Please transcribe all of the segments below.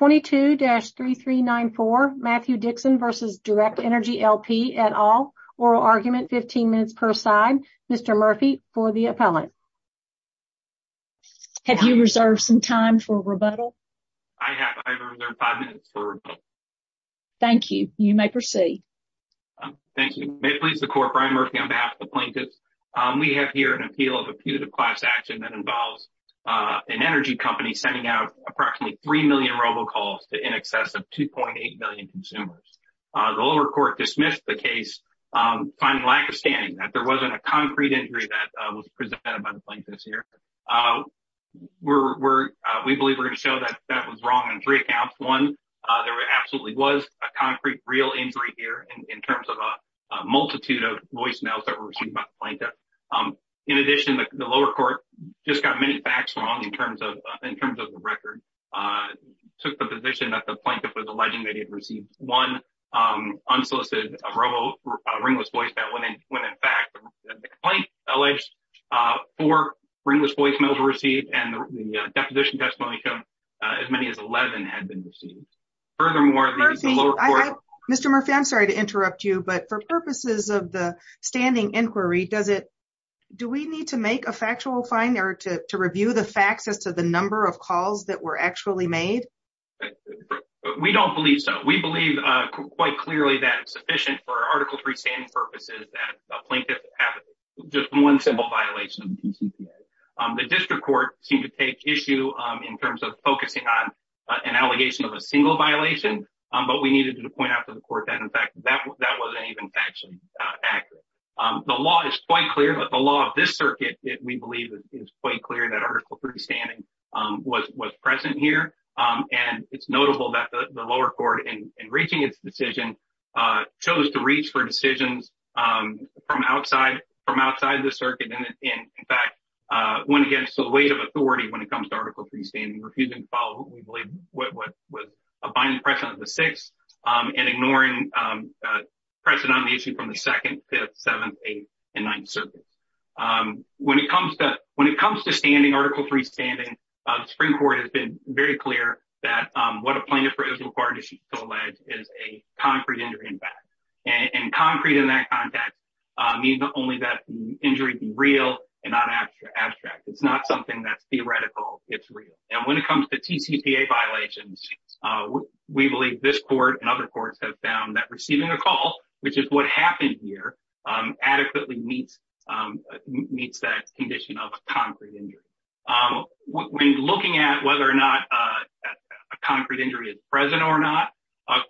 at all. Oral argument, 15 minutes per side. Mr. Murphy, for the appellant. Have you reserved some time for rebuttal? I have. I have reserved 5 minutes for rebuttal. Thank you. You may proceed. Thank you. May it please the Court, Brian Murphy, on behalf of the plaintiffs. We have here an appeal of a punitive class action that involves an energy company sending out approximately 3 million robocalls to in excess of 2.8 million consumers. The lower court dismissed the case finding lack of standing, that there wasn't a concrete injury that was presented by the plaintiffs here. We believe we're going to show that that was wrong on three accounts. One, there absolutely was a concrete, real injury here in terms of a multitude of voicemails that were received by the plaintiff. In addition, the lower court just got many facts wrong in terms of the record. It took the position that the plaintiff was alleging that he had received one unsolicited robo, ringless voicemail. When in fact, the complaint alleged four ringless voicemails were received and the deposition testimony showed as many as 11 had been received. Mr. Murphy, I'm sorry to interrupt you, but for purposes of the standing inquiry, do we need to make a factual finding or to review the facts as to the number of calls that were actually made? We don't believe so. We believe quite clearly that it's sufficient for Article 3 standing purposes that a plaintiff has just one simple violation of the DCPA. The district court seemed to take issue in terms of focusing on an allegation of a single violation, but we needed to point out to the court that, in fact, that wasn't even actually accurate. The law is quite clear, but the law of this circuit, we believe, is quite clear that Article 3 standing was present here. And it's notable that the lower court, in reaching its decision, chose to reach for decisions from outside the circuit and, in fact, went against the weight of authority when it comes to Article 3 standing, refusing to follow what we believe was a binding precedent of the 6th and ignoring precedent on the issue from the 2nd, 5th, 7th, 8th and 9th circuits. When it comes to standing, Article 3 standing, the Supreme Court has been very clear that what a plaintiff is required to allege is a concrete injury, in fact, and concrete in that context means only that the injury be real and not abstract. It's not something that's theoretical. It's real. And when it comes to TCPA violations, we believe this court and other courts have found that receiving a call, which is what happened here, adequately meets that condition of concrete injury. When looking at whether or not a concrete injury is present or not,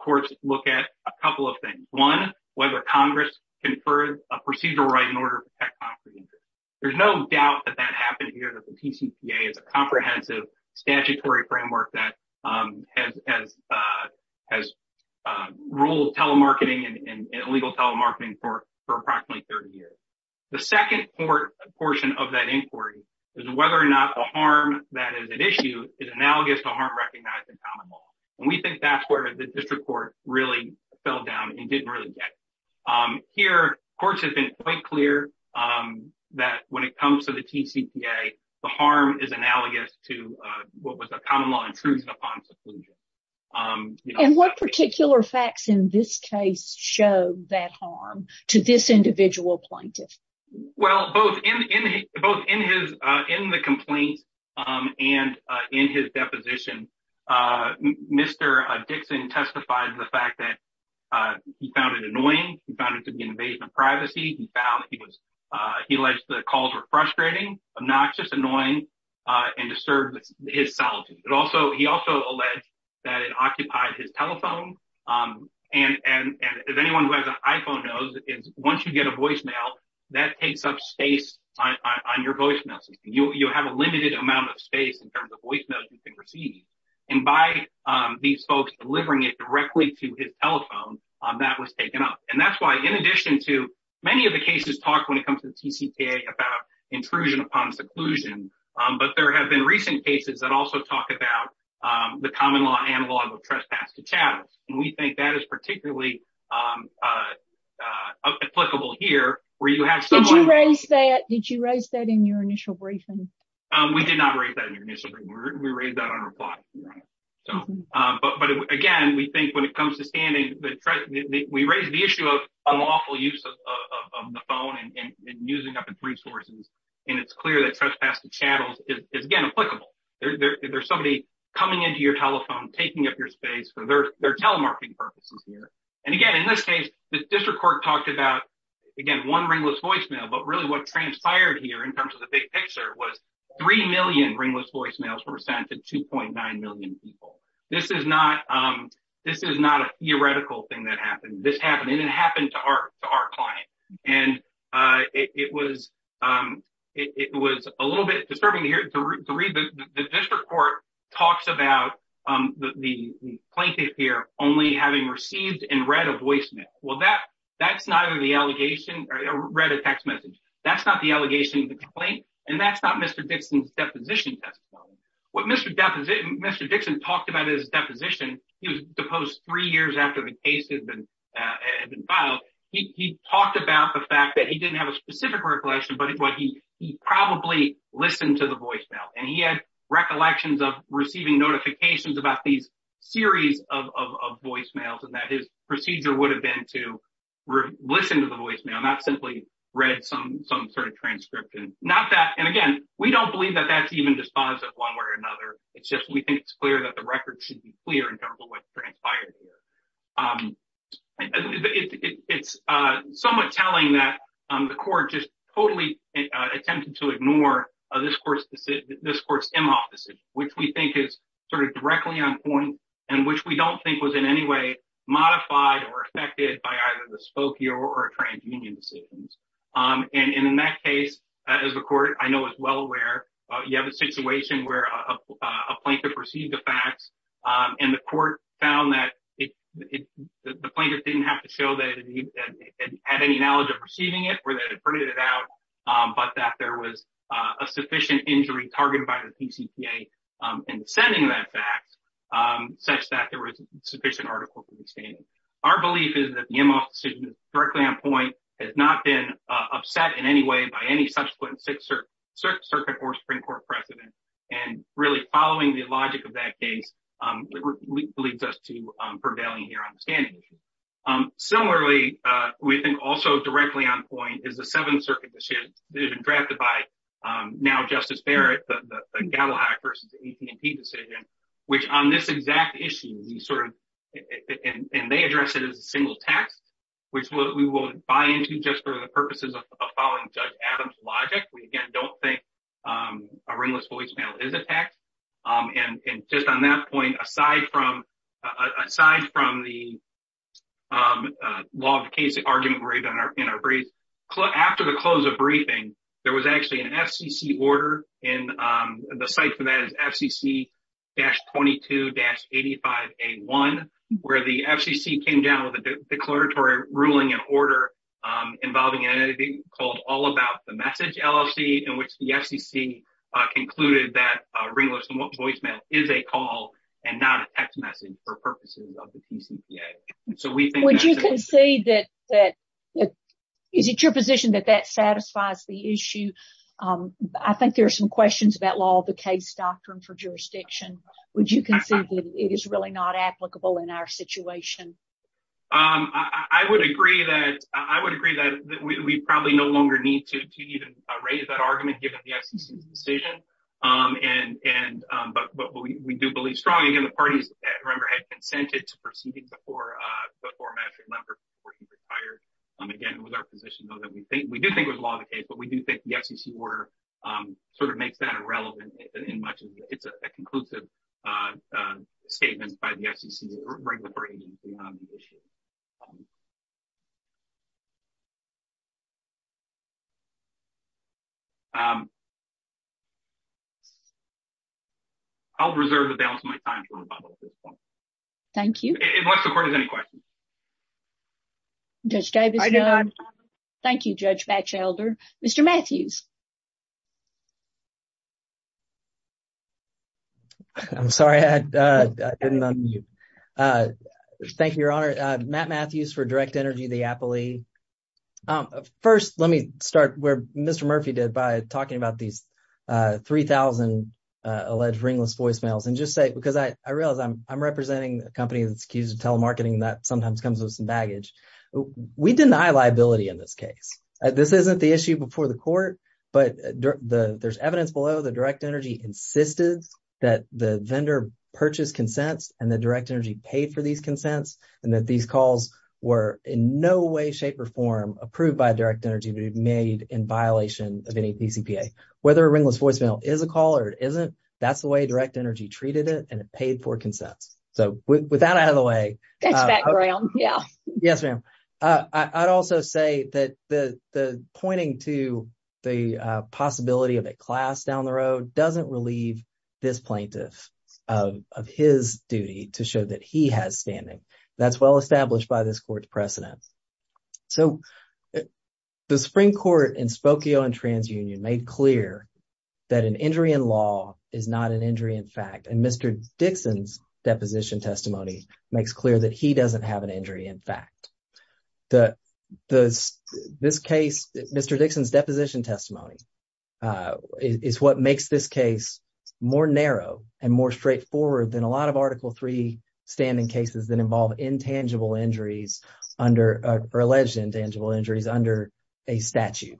courts look at a couple of things. One, whether Congress conferred a procedural right in order to protect concrete injury. There's no doubt that that happened here, that the TCPA is a comprehensive statutory framework that has ruled telemarketing and illegal telemarketing for approximately 30 years. The second portion of that inquiry is whether or not the harm that is at issue is analogous to harm recognized in common law. And we think that's where the district court really fell down and didn't really get. Here, courts have been quite clear that when it comes to the TCPA, the harm is analogous to what was a common law intrusion upon seclusion. And what particular facts in this case show that harm to this individual plaintiff? Well, both in the complaint and in his deposition, Mr. Dixon testified to the fact that he found it annoying. He found it to be an invasion of privacy. He alleged the calls were frustrating, obnoxious, annoying, and disturbed his solitude. He also alleged that it occupied his telephone. And as anyone who has an iPhone knows, once you get a voicemail, that takes up space on your voicemail system. You have a limited amount of space in terms of voicemail you can receive. And by these folks delivering it directly to his telephone, that was taken up. And that's why, in addition to many of the cases talked when it comes to the TCPA about intrusion upon seclusion, but there have been recent cases that also talk about the common law analog of trespass to chattels. And we think that is particularly applicable here. Did you raise that in your initial briefing? We did not raise that in your initial briefing. We raised that on reply. But again, we think when it comes to standing, we raised the issue of unlawful use of the phone and using up its resources. And it's clear that trespass to chattels is, again, applicable. There's somebody coming into your telephone, taking up your space for their telemarketing purposes here. And again, in this case, the district court talked about, again, one ringless voicemail. But really what transpired here in terms of the big picture was 3 million ringless voicemails were sent to 2.9 million people. This is not a theoretical thing that happened. This happened, and it happened to our client. And it was a little bit disturbing to read. The district court talks about the plaintiff here only having received and read a voicemail. Well, that's neither the allegation or read a text message. That's not the allegation of the complaint, and that's not Mr. Dixon's deposition testimony. What Mr. Dixon talked about in his deposition, he was deposed three years after the case had been filed. He talked about the fact that he didn't have a specific recollection, but he probably listened to the voicemail. And he had recollections of receiving notifications about these series of voicemails, and that his procedure would have been to listen to the voicemail, not simply read some sort of transcription. And again, we don't believe that that's even dispositive one way or another. It's just we think it's clear that the record should be clear in terms of what transpired here. It's somewhat telling that the court just totally attempted to ignore this court's decision, this court's Imhoff decision, which we think is sort of directly on point and which we don't think was in any way modified or affected by either the Spokee or TransUnion decisions. And in that case, as the court I know is well aware, you have a situation where a plaintiff received the facts and the court found that the plaintiff didn't have to show that he had any knowledge of receiving it, or that it printed it out, but that there was a sufficient injury targeted by the PCPA in sending that fact, such that there was sufficient article to the standard. Our belief is that the Imhoff decision is directly on point, has not been upset in any way by any subsequent Sixth Circuit or Supreme Court precedent. And really following the logic of that case leads us to prevailing here on the standing issue. Similarly, we think also directly on point is the Seventh Circuit decision drafted by now Justice Barrett, the Gaddell-Hack versus the AP&T decision, which on this exact issue, and they address it as a single text, which we will buy into just for the purposes of following Judge Adams' logic. We, again, don't think a ringless voicemail is a text. And just on that point, aside from the law of the case argument in our brief, after the close of briefing, there was actually an FCC order, and the site for that is FCC-22-85A1, where the FCC came down with a declaratory ruling in order involving an entity called All About the Message LLC, in which the FCC concluded that ringless voicemail is a call and not a text message for purposes of the PCPA. Would you concede that, is it your position that that satisfies the issue? I think there are some questions about law of the case doctrine for jurisdiction. Would you concede that it is really not applicable in our situation? I would agree that we probably no longer need to even raise that argument, given the FCC's decision. But we do believe strongly, again, the parties, remember, had consented to proceedings before Matthew Lemberg retired. Again, it was our position, though, that we do think it was law of the case, but we do think the FCC order sort of makes that irrelevant in much of it. It's a conclusive statement by the FCC's regulatory agency on the issue. I'll reserve the balance of my time for rebuttal at this point. Thank you. Unless the court has any questions. Judge Davis. Thank you, Judge Batchelder. Mr. Matthews. I'm sorry. Thank you, Your Honor. Matt Matthews for Direct Energy, the Appley. First, let me start where Mr. Murphy did by talking about these three thousand alleged ringless voicemails. And just say, because I realize I'm representing a company that's accused of telemarketing that sometimes comes with some baggage. We deny liability in this case. This isn't the issue before the court. But there's evidence below that Direct Energy insisted that the vendor purchased consents and that Direct Energy paid for these consents and that these calls were in no way, shape or form approved by Direct Energy to be made in violation of any DCPA. Whether a ringless voicemail is a call or isn't, that's the way Direct Energy treated it. And it paid for consents. So with that out of the way. Yes, ma'am. I'd also say that the pointing to the possibility of a class down the road doesn't relieve this plaintiff of his duty to show that he has standing. That's well established by this court's precedent. So the Supreme Court in Spokane and TransUnion made clear that an injury in law is not an injury in fact. And Mr. Dixon's deposition testimony makes clear that he doesn't have an injury. This case, Mr. Dixon's deposition testimony, is what makes this case more narrow and more straightforward than a lot of Article 3 standing cases that involve intangible injuries under alleged intangible injuries under a statute.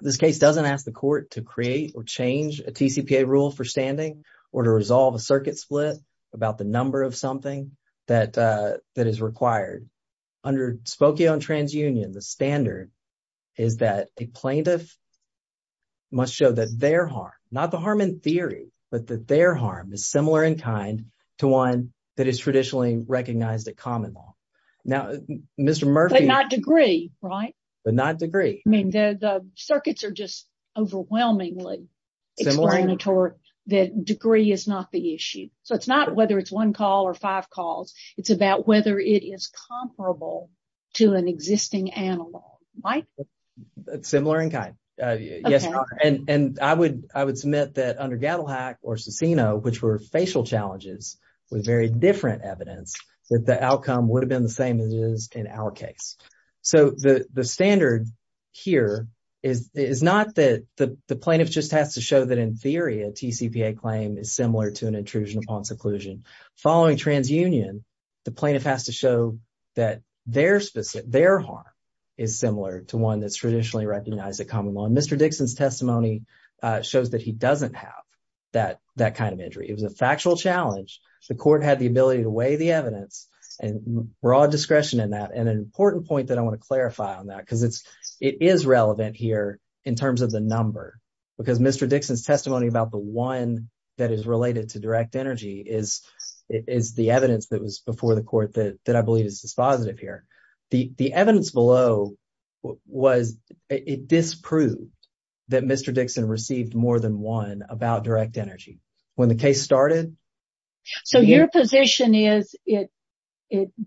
This case doesn't ask the court to create or change a TCPA rule for standing or to resolve a circuit split about the number of something that is required. Under Spokane and TransUnion, the standard is that a plaintiff must show that their harm, not the harm in theory, but that their harm is similar in kind to one that is traditionally recognized a common law. Now, Mr. Murphy... But not degree, right? But not degree. I mean, the circuits are just overwhelmingly explanatory that degree is not the issue. So it's not whether it's one call or five calls. It's about whether it is comparable to an existing analog, right? Similar in kind. Yes, Your Honor. And I would submit that under Gaddlehack or Cicino, which were facial challenges with very different evidence, that the outcome would have been the same as it is in our case. So the standard here is not that the plaintiff just has to show that, in theory, a TCPA claim is similar to an intrusion upon seclusion. Following TransUnion, the plaintiff has to show that their harm is similar to one that's traditionally recognized a common law. Mr. Dixon's testimony shows that he doesn't have that kind of injury. It was a factual challenge. The court had the ability to weigh the evidence and broad discretion in that. And an important point that I want to clarify on that, because it is relevant here in terms of the number. Because Mr. Dixon's testimony about the one that is related to direct energy is the evidence that was before the court that I believe is dispositive here. The evidence below disproved that Mr. Dixon received more than one about direct energy. When the case started. So your position is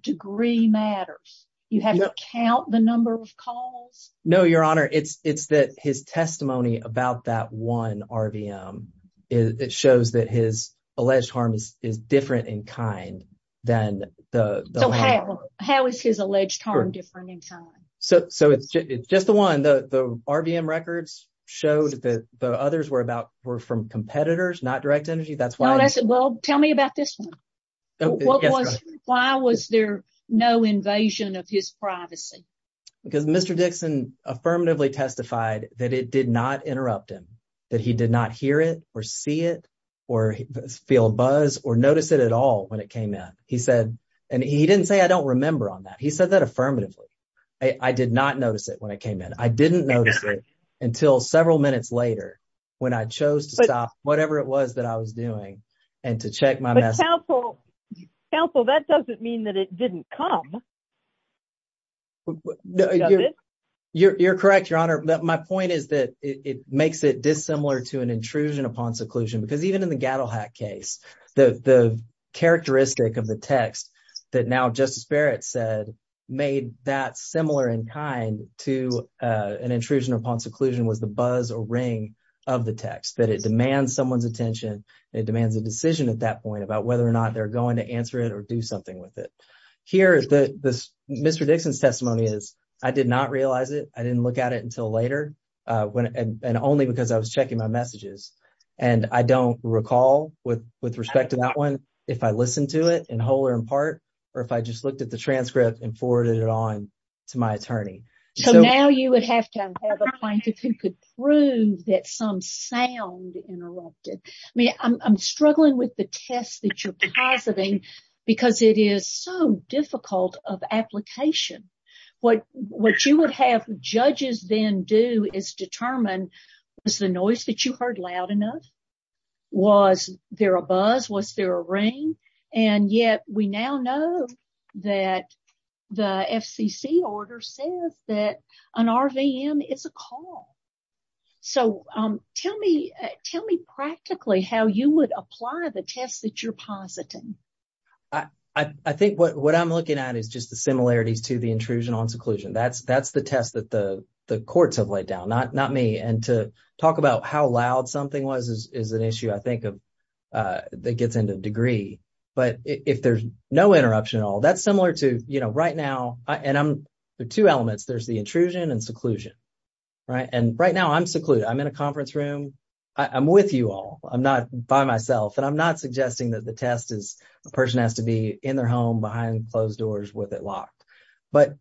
degree matters. You have to count the number of calls? No, Your Honor. It's that his testimony about that one RVM, it shows that his alleged harm is different in kind than the other one. So how is his alleged harm different in kind? So it's just the one the RVM records showed that the others were about were from competitors, not direct energy. That's why I said, well, tell me about this one. Why was there no invasion of his privacy? Because Mr. Dixon affirmatively testified that it did not interrupt him, that he did not hear it or see it or feel buzz or notice it at all when it came in. He said and he didn't say I don't remember on that. He said that affirmatively. I did not notice it when I came in. I didn't notice it until several minutes later when I chose to stop whatever it was that I was doing. And to check my mouse. So that doesn't mean that it didn't come. You're correct, Your Honor. My point is that it makes it dissimilar to an intrusion upon seclusion, because even in the Gattle Hat case, the characteristic of the text that now Justice Barrett said made that similar in kind to an intrusion upon seclusion was the buzz or ring of the text, that it demands someone's attention. It demands a decision at that point about whether or not they're going to answer it or do something with it. Here, Mr. Dixon's testimony is I did not realize it. I didn't look at it until later. And only because I was checking my messages. And I don't recall, with respect to that one, if I listened to it in whole or in part, or if I just looked at the transcript and forwarded it on to my attorney. So now you would have to have a plaintiff who could prove that some sound interrupted. I mean, I'm struggling with the test that you're positing because it is so difficult of application. What you would have judges then do is determine, was the noise that you heard loud enough? Was there a buzz? Was there a ring? And yet we now know that the FCC order says that an RVM is a call. So tell me practically how you would apply the test that you're positing. I think what I'm looking at is just the similarities to the intrusion on seclusion. That's the test that the courts have laid down, not me. And to talk about how loud something was is an issue, I think, that gets into the degree. But if there's no interruption at all, that's similar to right now. And there are two elements. There's the intrusion and seclusion. And right now I'm secluded. I'm in a conference room. I'm with you all. I'm not by myself and I'm not suggesting that the test is a person has to be in their home behind closed doors with it locked. But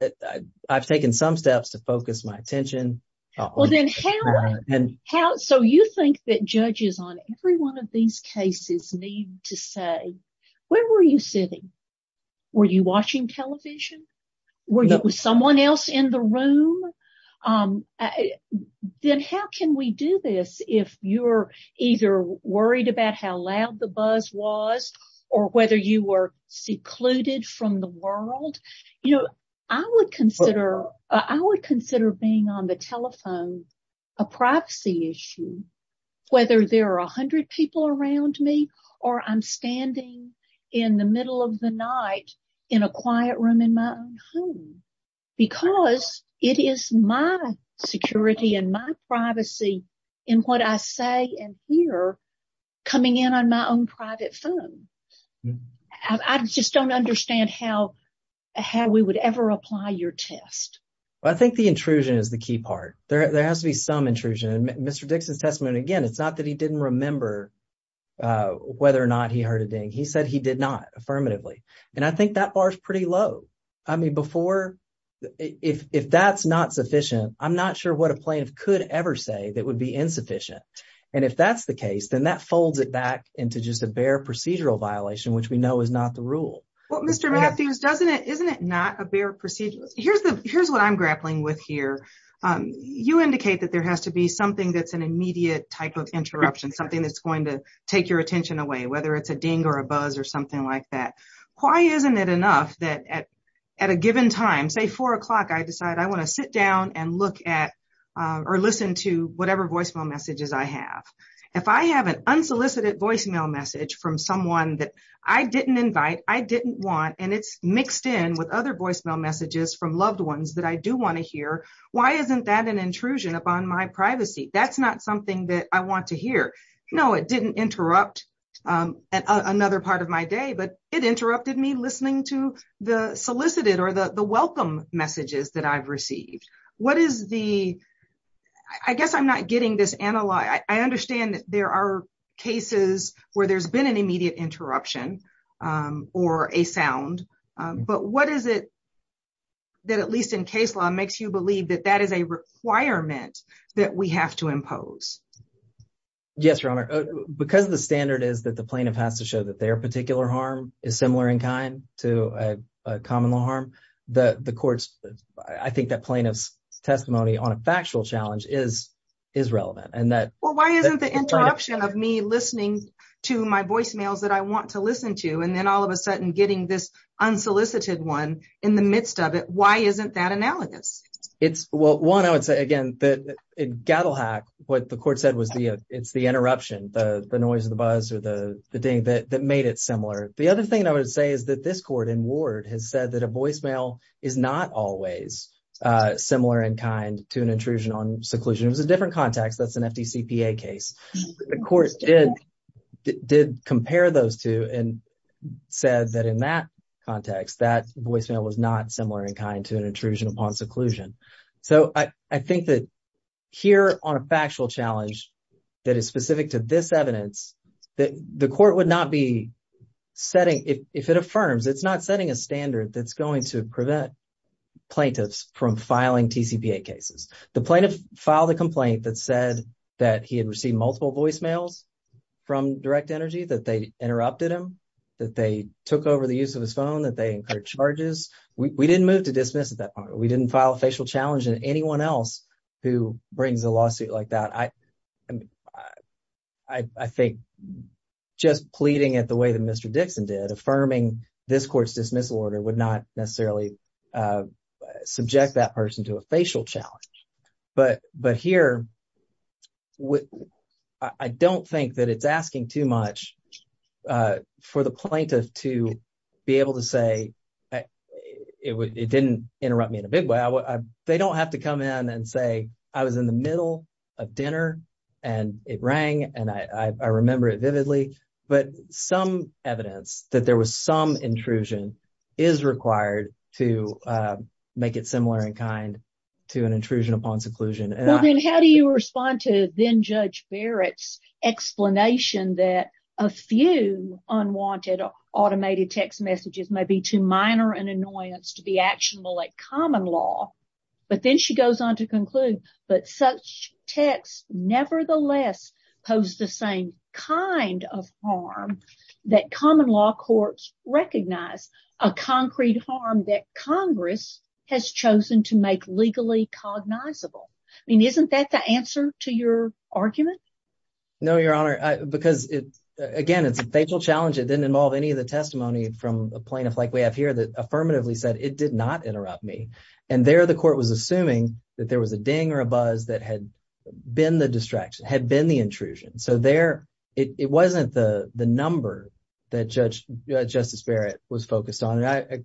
I've taken some steps to focus my attention. And so you think that judges on every one of these cases need to say, where were you sitting? Were you watching television? Were you with someone else in the room? Then how can we do this if you're either worried about how loud the buzz was or whether you were secluded from the world? You know, I would consider I would consider being on the telephone a privacy issue, whether there are 100 people around me or I'm standing in the middle of the night in a quiet room in my home. Because it is my security and my privacy in what I say and hear coming in on my own private phone. I just don't understand how how we would ever apply your test. I think the intrusion is the key part. There has to be some intrusion. Mr. Dixon's testimony, again, it's not that he didn't remember whether or not he heard a ding. He said he did not affirmatively. And I think that bar is pretty low. I mean, before if that's not sufficient, I'm not sure what a plaintiff could ever say that would be insufficient. And if that's the case, then that folds it back into just a bare procedural violation, which we know is not the rule. Well, Mr. Matthews, doesn't it? Isn't it not a bare procedure? Here's the here's what I'm grappling with here. You indicate that there has to be something that's an immediate type of interruption, something that's going to take your attention away, whether it's a ding or a buzz or something like that. Why isn't it enough that at a given time, say four o'clock, I decide I want to sit down and look at or listen to whatever voicemail messages I have. If I have an unsolicited voicemail message from someone that I didn't invite, I didn't want. And it's mixed in with other voicemail messages from loved ones that I do want to hear. Why isn't that an intrusion upon my privacy? That's not something that I want to hear. No, it didn't interrupt another part of my day, but it interrupted me listening to the solicited or the welcome messages that I've received. What is the I guess I'm not getting this analog. I understand that there are cases where there's been an immediate interruption or a sound. But what is it that at least in case law makes you believe that that is a requirement that we have to impose? Yes, Your Honor, because the standard is that the plaintiff has to show that their particular harm is similar in kind to a common law harm. The courts, I think that plaintiff's testimony on a factual challenge is is relevant and that. Well, why isn't the interruption of me listening to my voicemails that I want to listen to? And then all of a sudden getting this unsolicited one in the midst of it. Why isn't that analogous? It's well, one, I would say, again, that in Gattelhack, what the court said was the it's the interruption, the noise, the buzz or the thing that made it similar. The other thing I would say is that this court in Ward has said that a voicemail is not always similar in kind to an intrusion on seclusion. It was a different context. That's an FTCPA case. The court did did compare those two and said that in that context, that voicemail was not similar in kind to an intrusion upon seclusion. So I think that here on a factual challenge that is specific to this evidence that the court would not be setting if it affirms it's not setting a standard that's going to prevent plaintiffs from filing TCPA cases. The plaintiff filed a complaint that said that he had received multiple voicemails from Direct Energy, that they interrupted him, that they took over the use of his phone, that they incurred charges. We didn't move to dismiss at that point. We didn't file a facial challenge. who brings a lawsuit like that, I think just pleading at the way that Mr. Dixon did affirming this court's dismissal order would not necessarily subject that person to a facial challenge. But here, I don't think that it's asking too much for the plaintiff to be able to say it didn't interrupt me in a big way. They don't have to come in and say I was in the middle of dinner and it rang and I remember it vividly. But some evidence that there was some intrusion is required to make it similar in kind to an intrusion upon seclusion. How do you respond to then Judge Barrett's explanation that a few unwanted automated text messages may be too minor an annoyance to be actionable like common law. But then she goes on to conclude, but such texts, nevertheless, pose the same kind of harm that common law courts recognize a concrete harm that Congress has chosen to make legally cognizable. I mean, isn't that the answer to your argument? No, Your Honor, because, again, it's a facial challenge. It didn't involve any of the testimony from a plaintiff like we have here that affirmatively said it did not interrupt me. And there the court was assuming that there was a ding or a buzz that had been the distraction, had been the intrusion. So there it wasn't the number that Judge Justice Barrett was focused on. And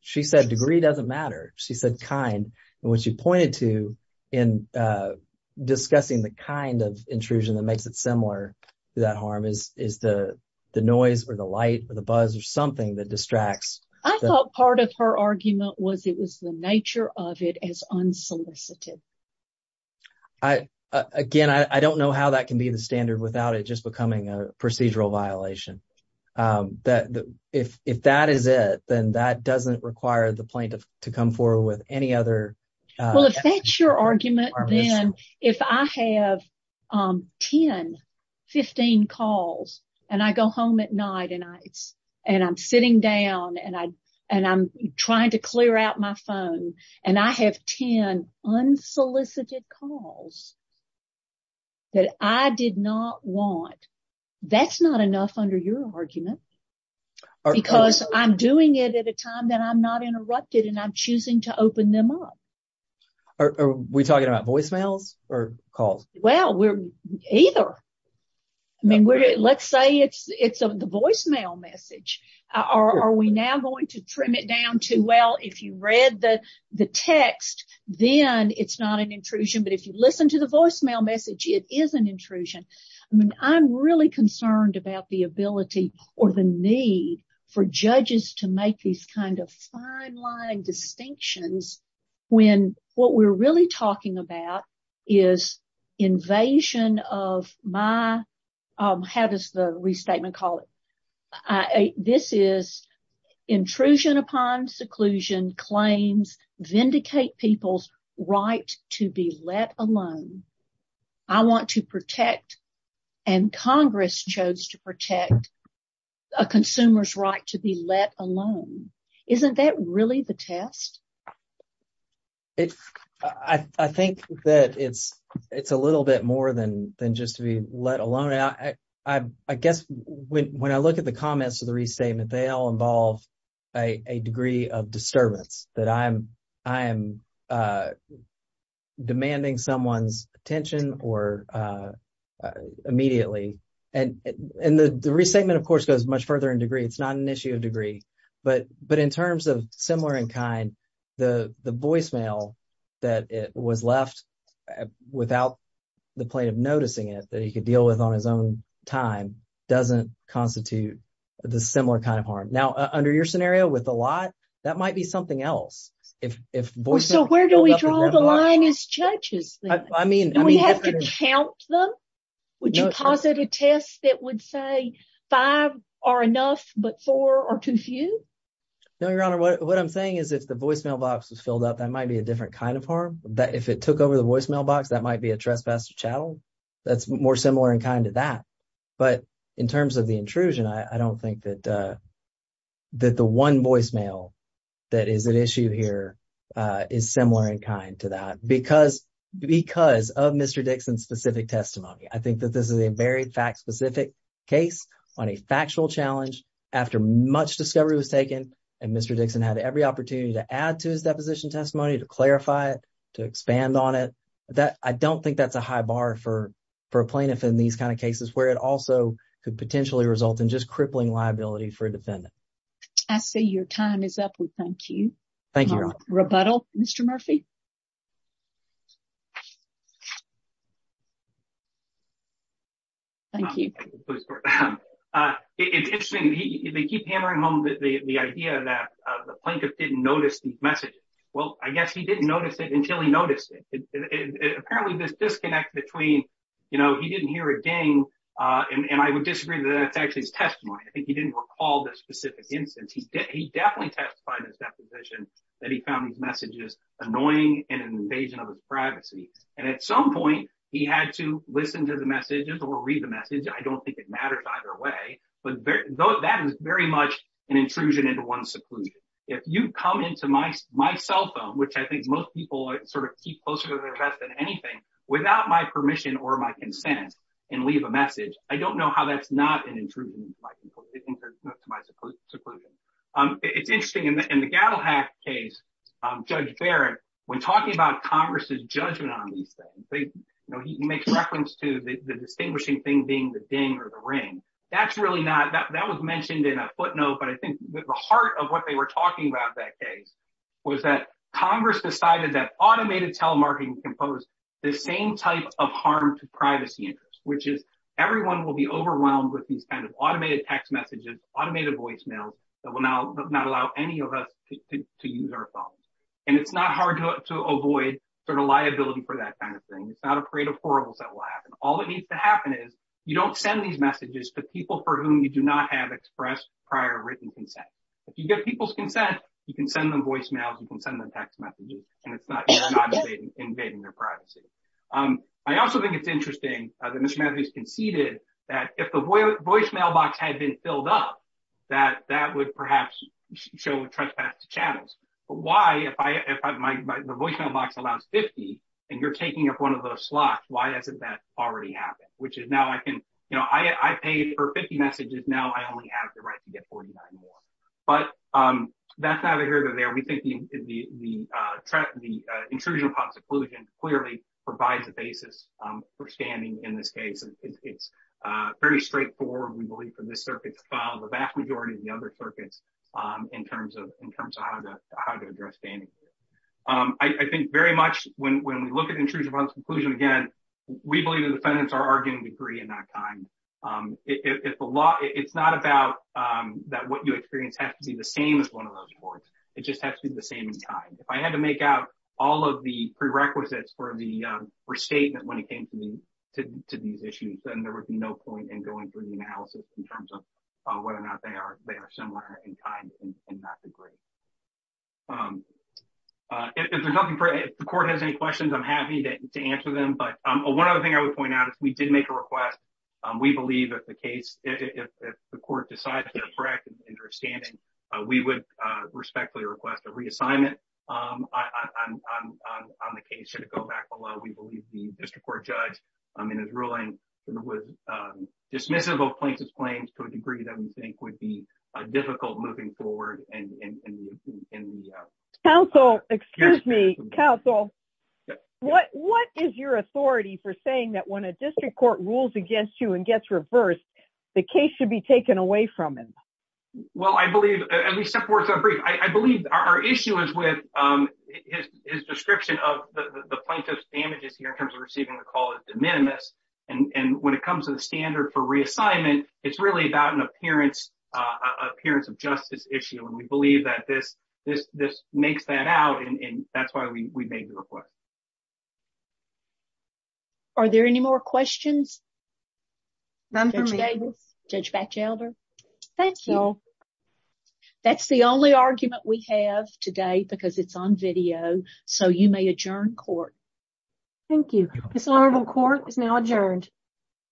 she said degree doesn't matter. She said kind. And what she pointed to in discussing the kind of intrusion that makes it similar to that harm is the noise or the light or the buzz or something that distracts. I thought part of her argument was it was the nature of it as unsolicited. Again, I don't know how that can be the standard without it just becoming a procedural violation that if that is it, then that doesn't require the plaintiff to come forward with any other. Well, if that's your argument, then if I have 10, 15 calls and I go home at night and I and I'm sitting down and I and I'm trying to clear out my phone and I have 10 unsolicited calls. That I did not want. That's not enough under your argument because I'm doing it at a time that I'm not interrupted and I'm choosing to open them up. Are we talking about voicemails or calls? Well, we're either. I mean, let's say it's it's the voicemail message. Are we now going to trim it down to? Well, if you read the the text, then it's not an intrusion. But if you listen to the voicemail message, it is an intrusion. I'm really concerned about the ability or the need for judges to make these kind of fine line distinctions when what we're really talking about is invasion of my. How does the restatement call it? This is intrusion upon seclusion claims vindicate people's right to be let alone. I want to protect and Congress chose to protect a consumer's right to be let alone. Isn't that really the test? I think that it's it's a little bit more than than just to be let alone. I guess when I look at the comments of the restatement, they all involve a degree of disturbance that I'm I'm demanding someone's attention or immediately. And the restatement, of course, goes much further in degree. It's not an issue of degree. But but in terms of similar in kind, the the voicemail that was left without the plaintiff noticing it that he could deal with on his own time doesn't constitute the similar kind of harm. Now, under your scenario with a lot, that might be something else. If if so, where do we draw the line as judges? I mean, I mean, we have to count them. Would you posit a test that would say five are enough, but four are too few? No, Your Honor, what I'm saying is, if the voicemail box is filled up, that might be a different kind of harm that if it took over the voicemail box, that might be a trespasser channel. That's more similar in kind of that. But in terms of the intrusion, I don't think that that the one voicemail that is an issue here is similar in kind to that because because of Mr. Dixon specific testimony. I think that this is a very fact specific case on a factual challenge after much discovery was taken. And Mr. Dixon had every opportunity to add to his deposition testimony to clarify it, to expand on it. That I don't think that's a high bar for for a plaintiff in these kind of cases where it also could potentially result in just crippling liability for a defendant. I see your time is up. Thank you. Thank you. Rebuttal, Mr. Murphy. Thank you. It's interesting. They keep hammering home the idea that the plaintiff didn't notice the message. Well, I guess he didn't notice it until he noticed it. Apparently this disconnect between, you know, he didn't hear a ding. And I would disagree that that's actually his testimony. I think he didn't recall this specific instance. He definitely testified in his deposition that he found these messages annoying and an invasion of his privacy. And at some point, he had to listen to the messages or read the message. I don't think it matters either way. But that is very much an intrusion into one's seclusion. If you come into my cell phone, which I think most people sort of keep closer to their best than anything, without my permission or my consent and leave a message, I don't know how that's not an intrusion into my seclusion. It's interesting. In the Gattlehack case, Judge Barrett, when talking about Congress's judgment on these things, he makes reference to the distinguishing thing being the ding or the ring. That's really not that. That was mentioned in a footnote. But I think the heart of what they were talking about in that case was that Congress decided that automated telemarketing can pose the same type of harm to privacy interests, which is everyone will be overwhelmed with these kind of automated text messages, automated voicemails that will not allow any of us to use our phones. And it's not hard to avoid sort of liability for that kind of thing. It's not afraid of horribles that will happen. All that needs to happen is you don't send these messages to people for whom you do not have expressed prior written consent. If you get people's consent, you can send them voicemails, you can send them text messages, and it's not invading their privacy. I also think it's interesting that Mr. Matthews conceded that if the voicemail box had been filled up, that that would perhaps show a trespass to channels. But why, if the voicemail box allows 50 and you're taking up one of those slots, why hasn't that already happened? Which is now I can, you know, I paid for 50 messages, now I only have the right to get 49 more. But that's neither here nor there. We think the intrusion upon seclusion clearly provides a basis for standing in this case. It's very straightforward, we believe, for this circuit to file, the vast majority of the other circuits in terms of how to address standing. I think very much when we look at intrusion upon seclusion, again, we believe the defendants are arguing degree and not time. It's not about that what you experience has to be the same as one of those courts, it just has to be the same time. If I had to make out all of the prerequisites for the restatement when it came to these issues, then there would be no point in going through the analysis in terms of whether or not they are similar in time and not degree. If the court has any questions, I'm happy to answer them. But one other thing I would point out, if we did make a request, we believe that the case, if the court decides to correct an interest standing, we would respectfully request a reassignment on the case should it go back below. We believe the district court judge in his ruling was dismissive of plaintiff's claims to a degree that we think would be difficult moving forward. Excuse me, counsel. What is your authority for saying that when a district court rules against you and gets reversed, the case should be taken away from him? I believe our issue is with his description of the plaintiff's damages here in terms of receiving the call as de minimis. And when it comes to the standard for reassignment, it's really about an appearance of justice issue. And we believe that this makes that out. And that's why we made the request. Are there any more questions? None for me. Judge Batchelder? Thank you. That's the only argument we have today because it's on video. So you may adjourn court. Thank you. This honorable court is now adjourned.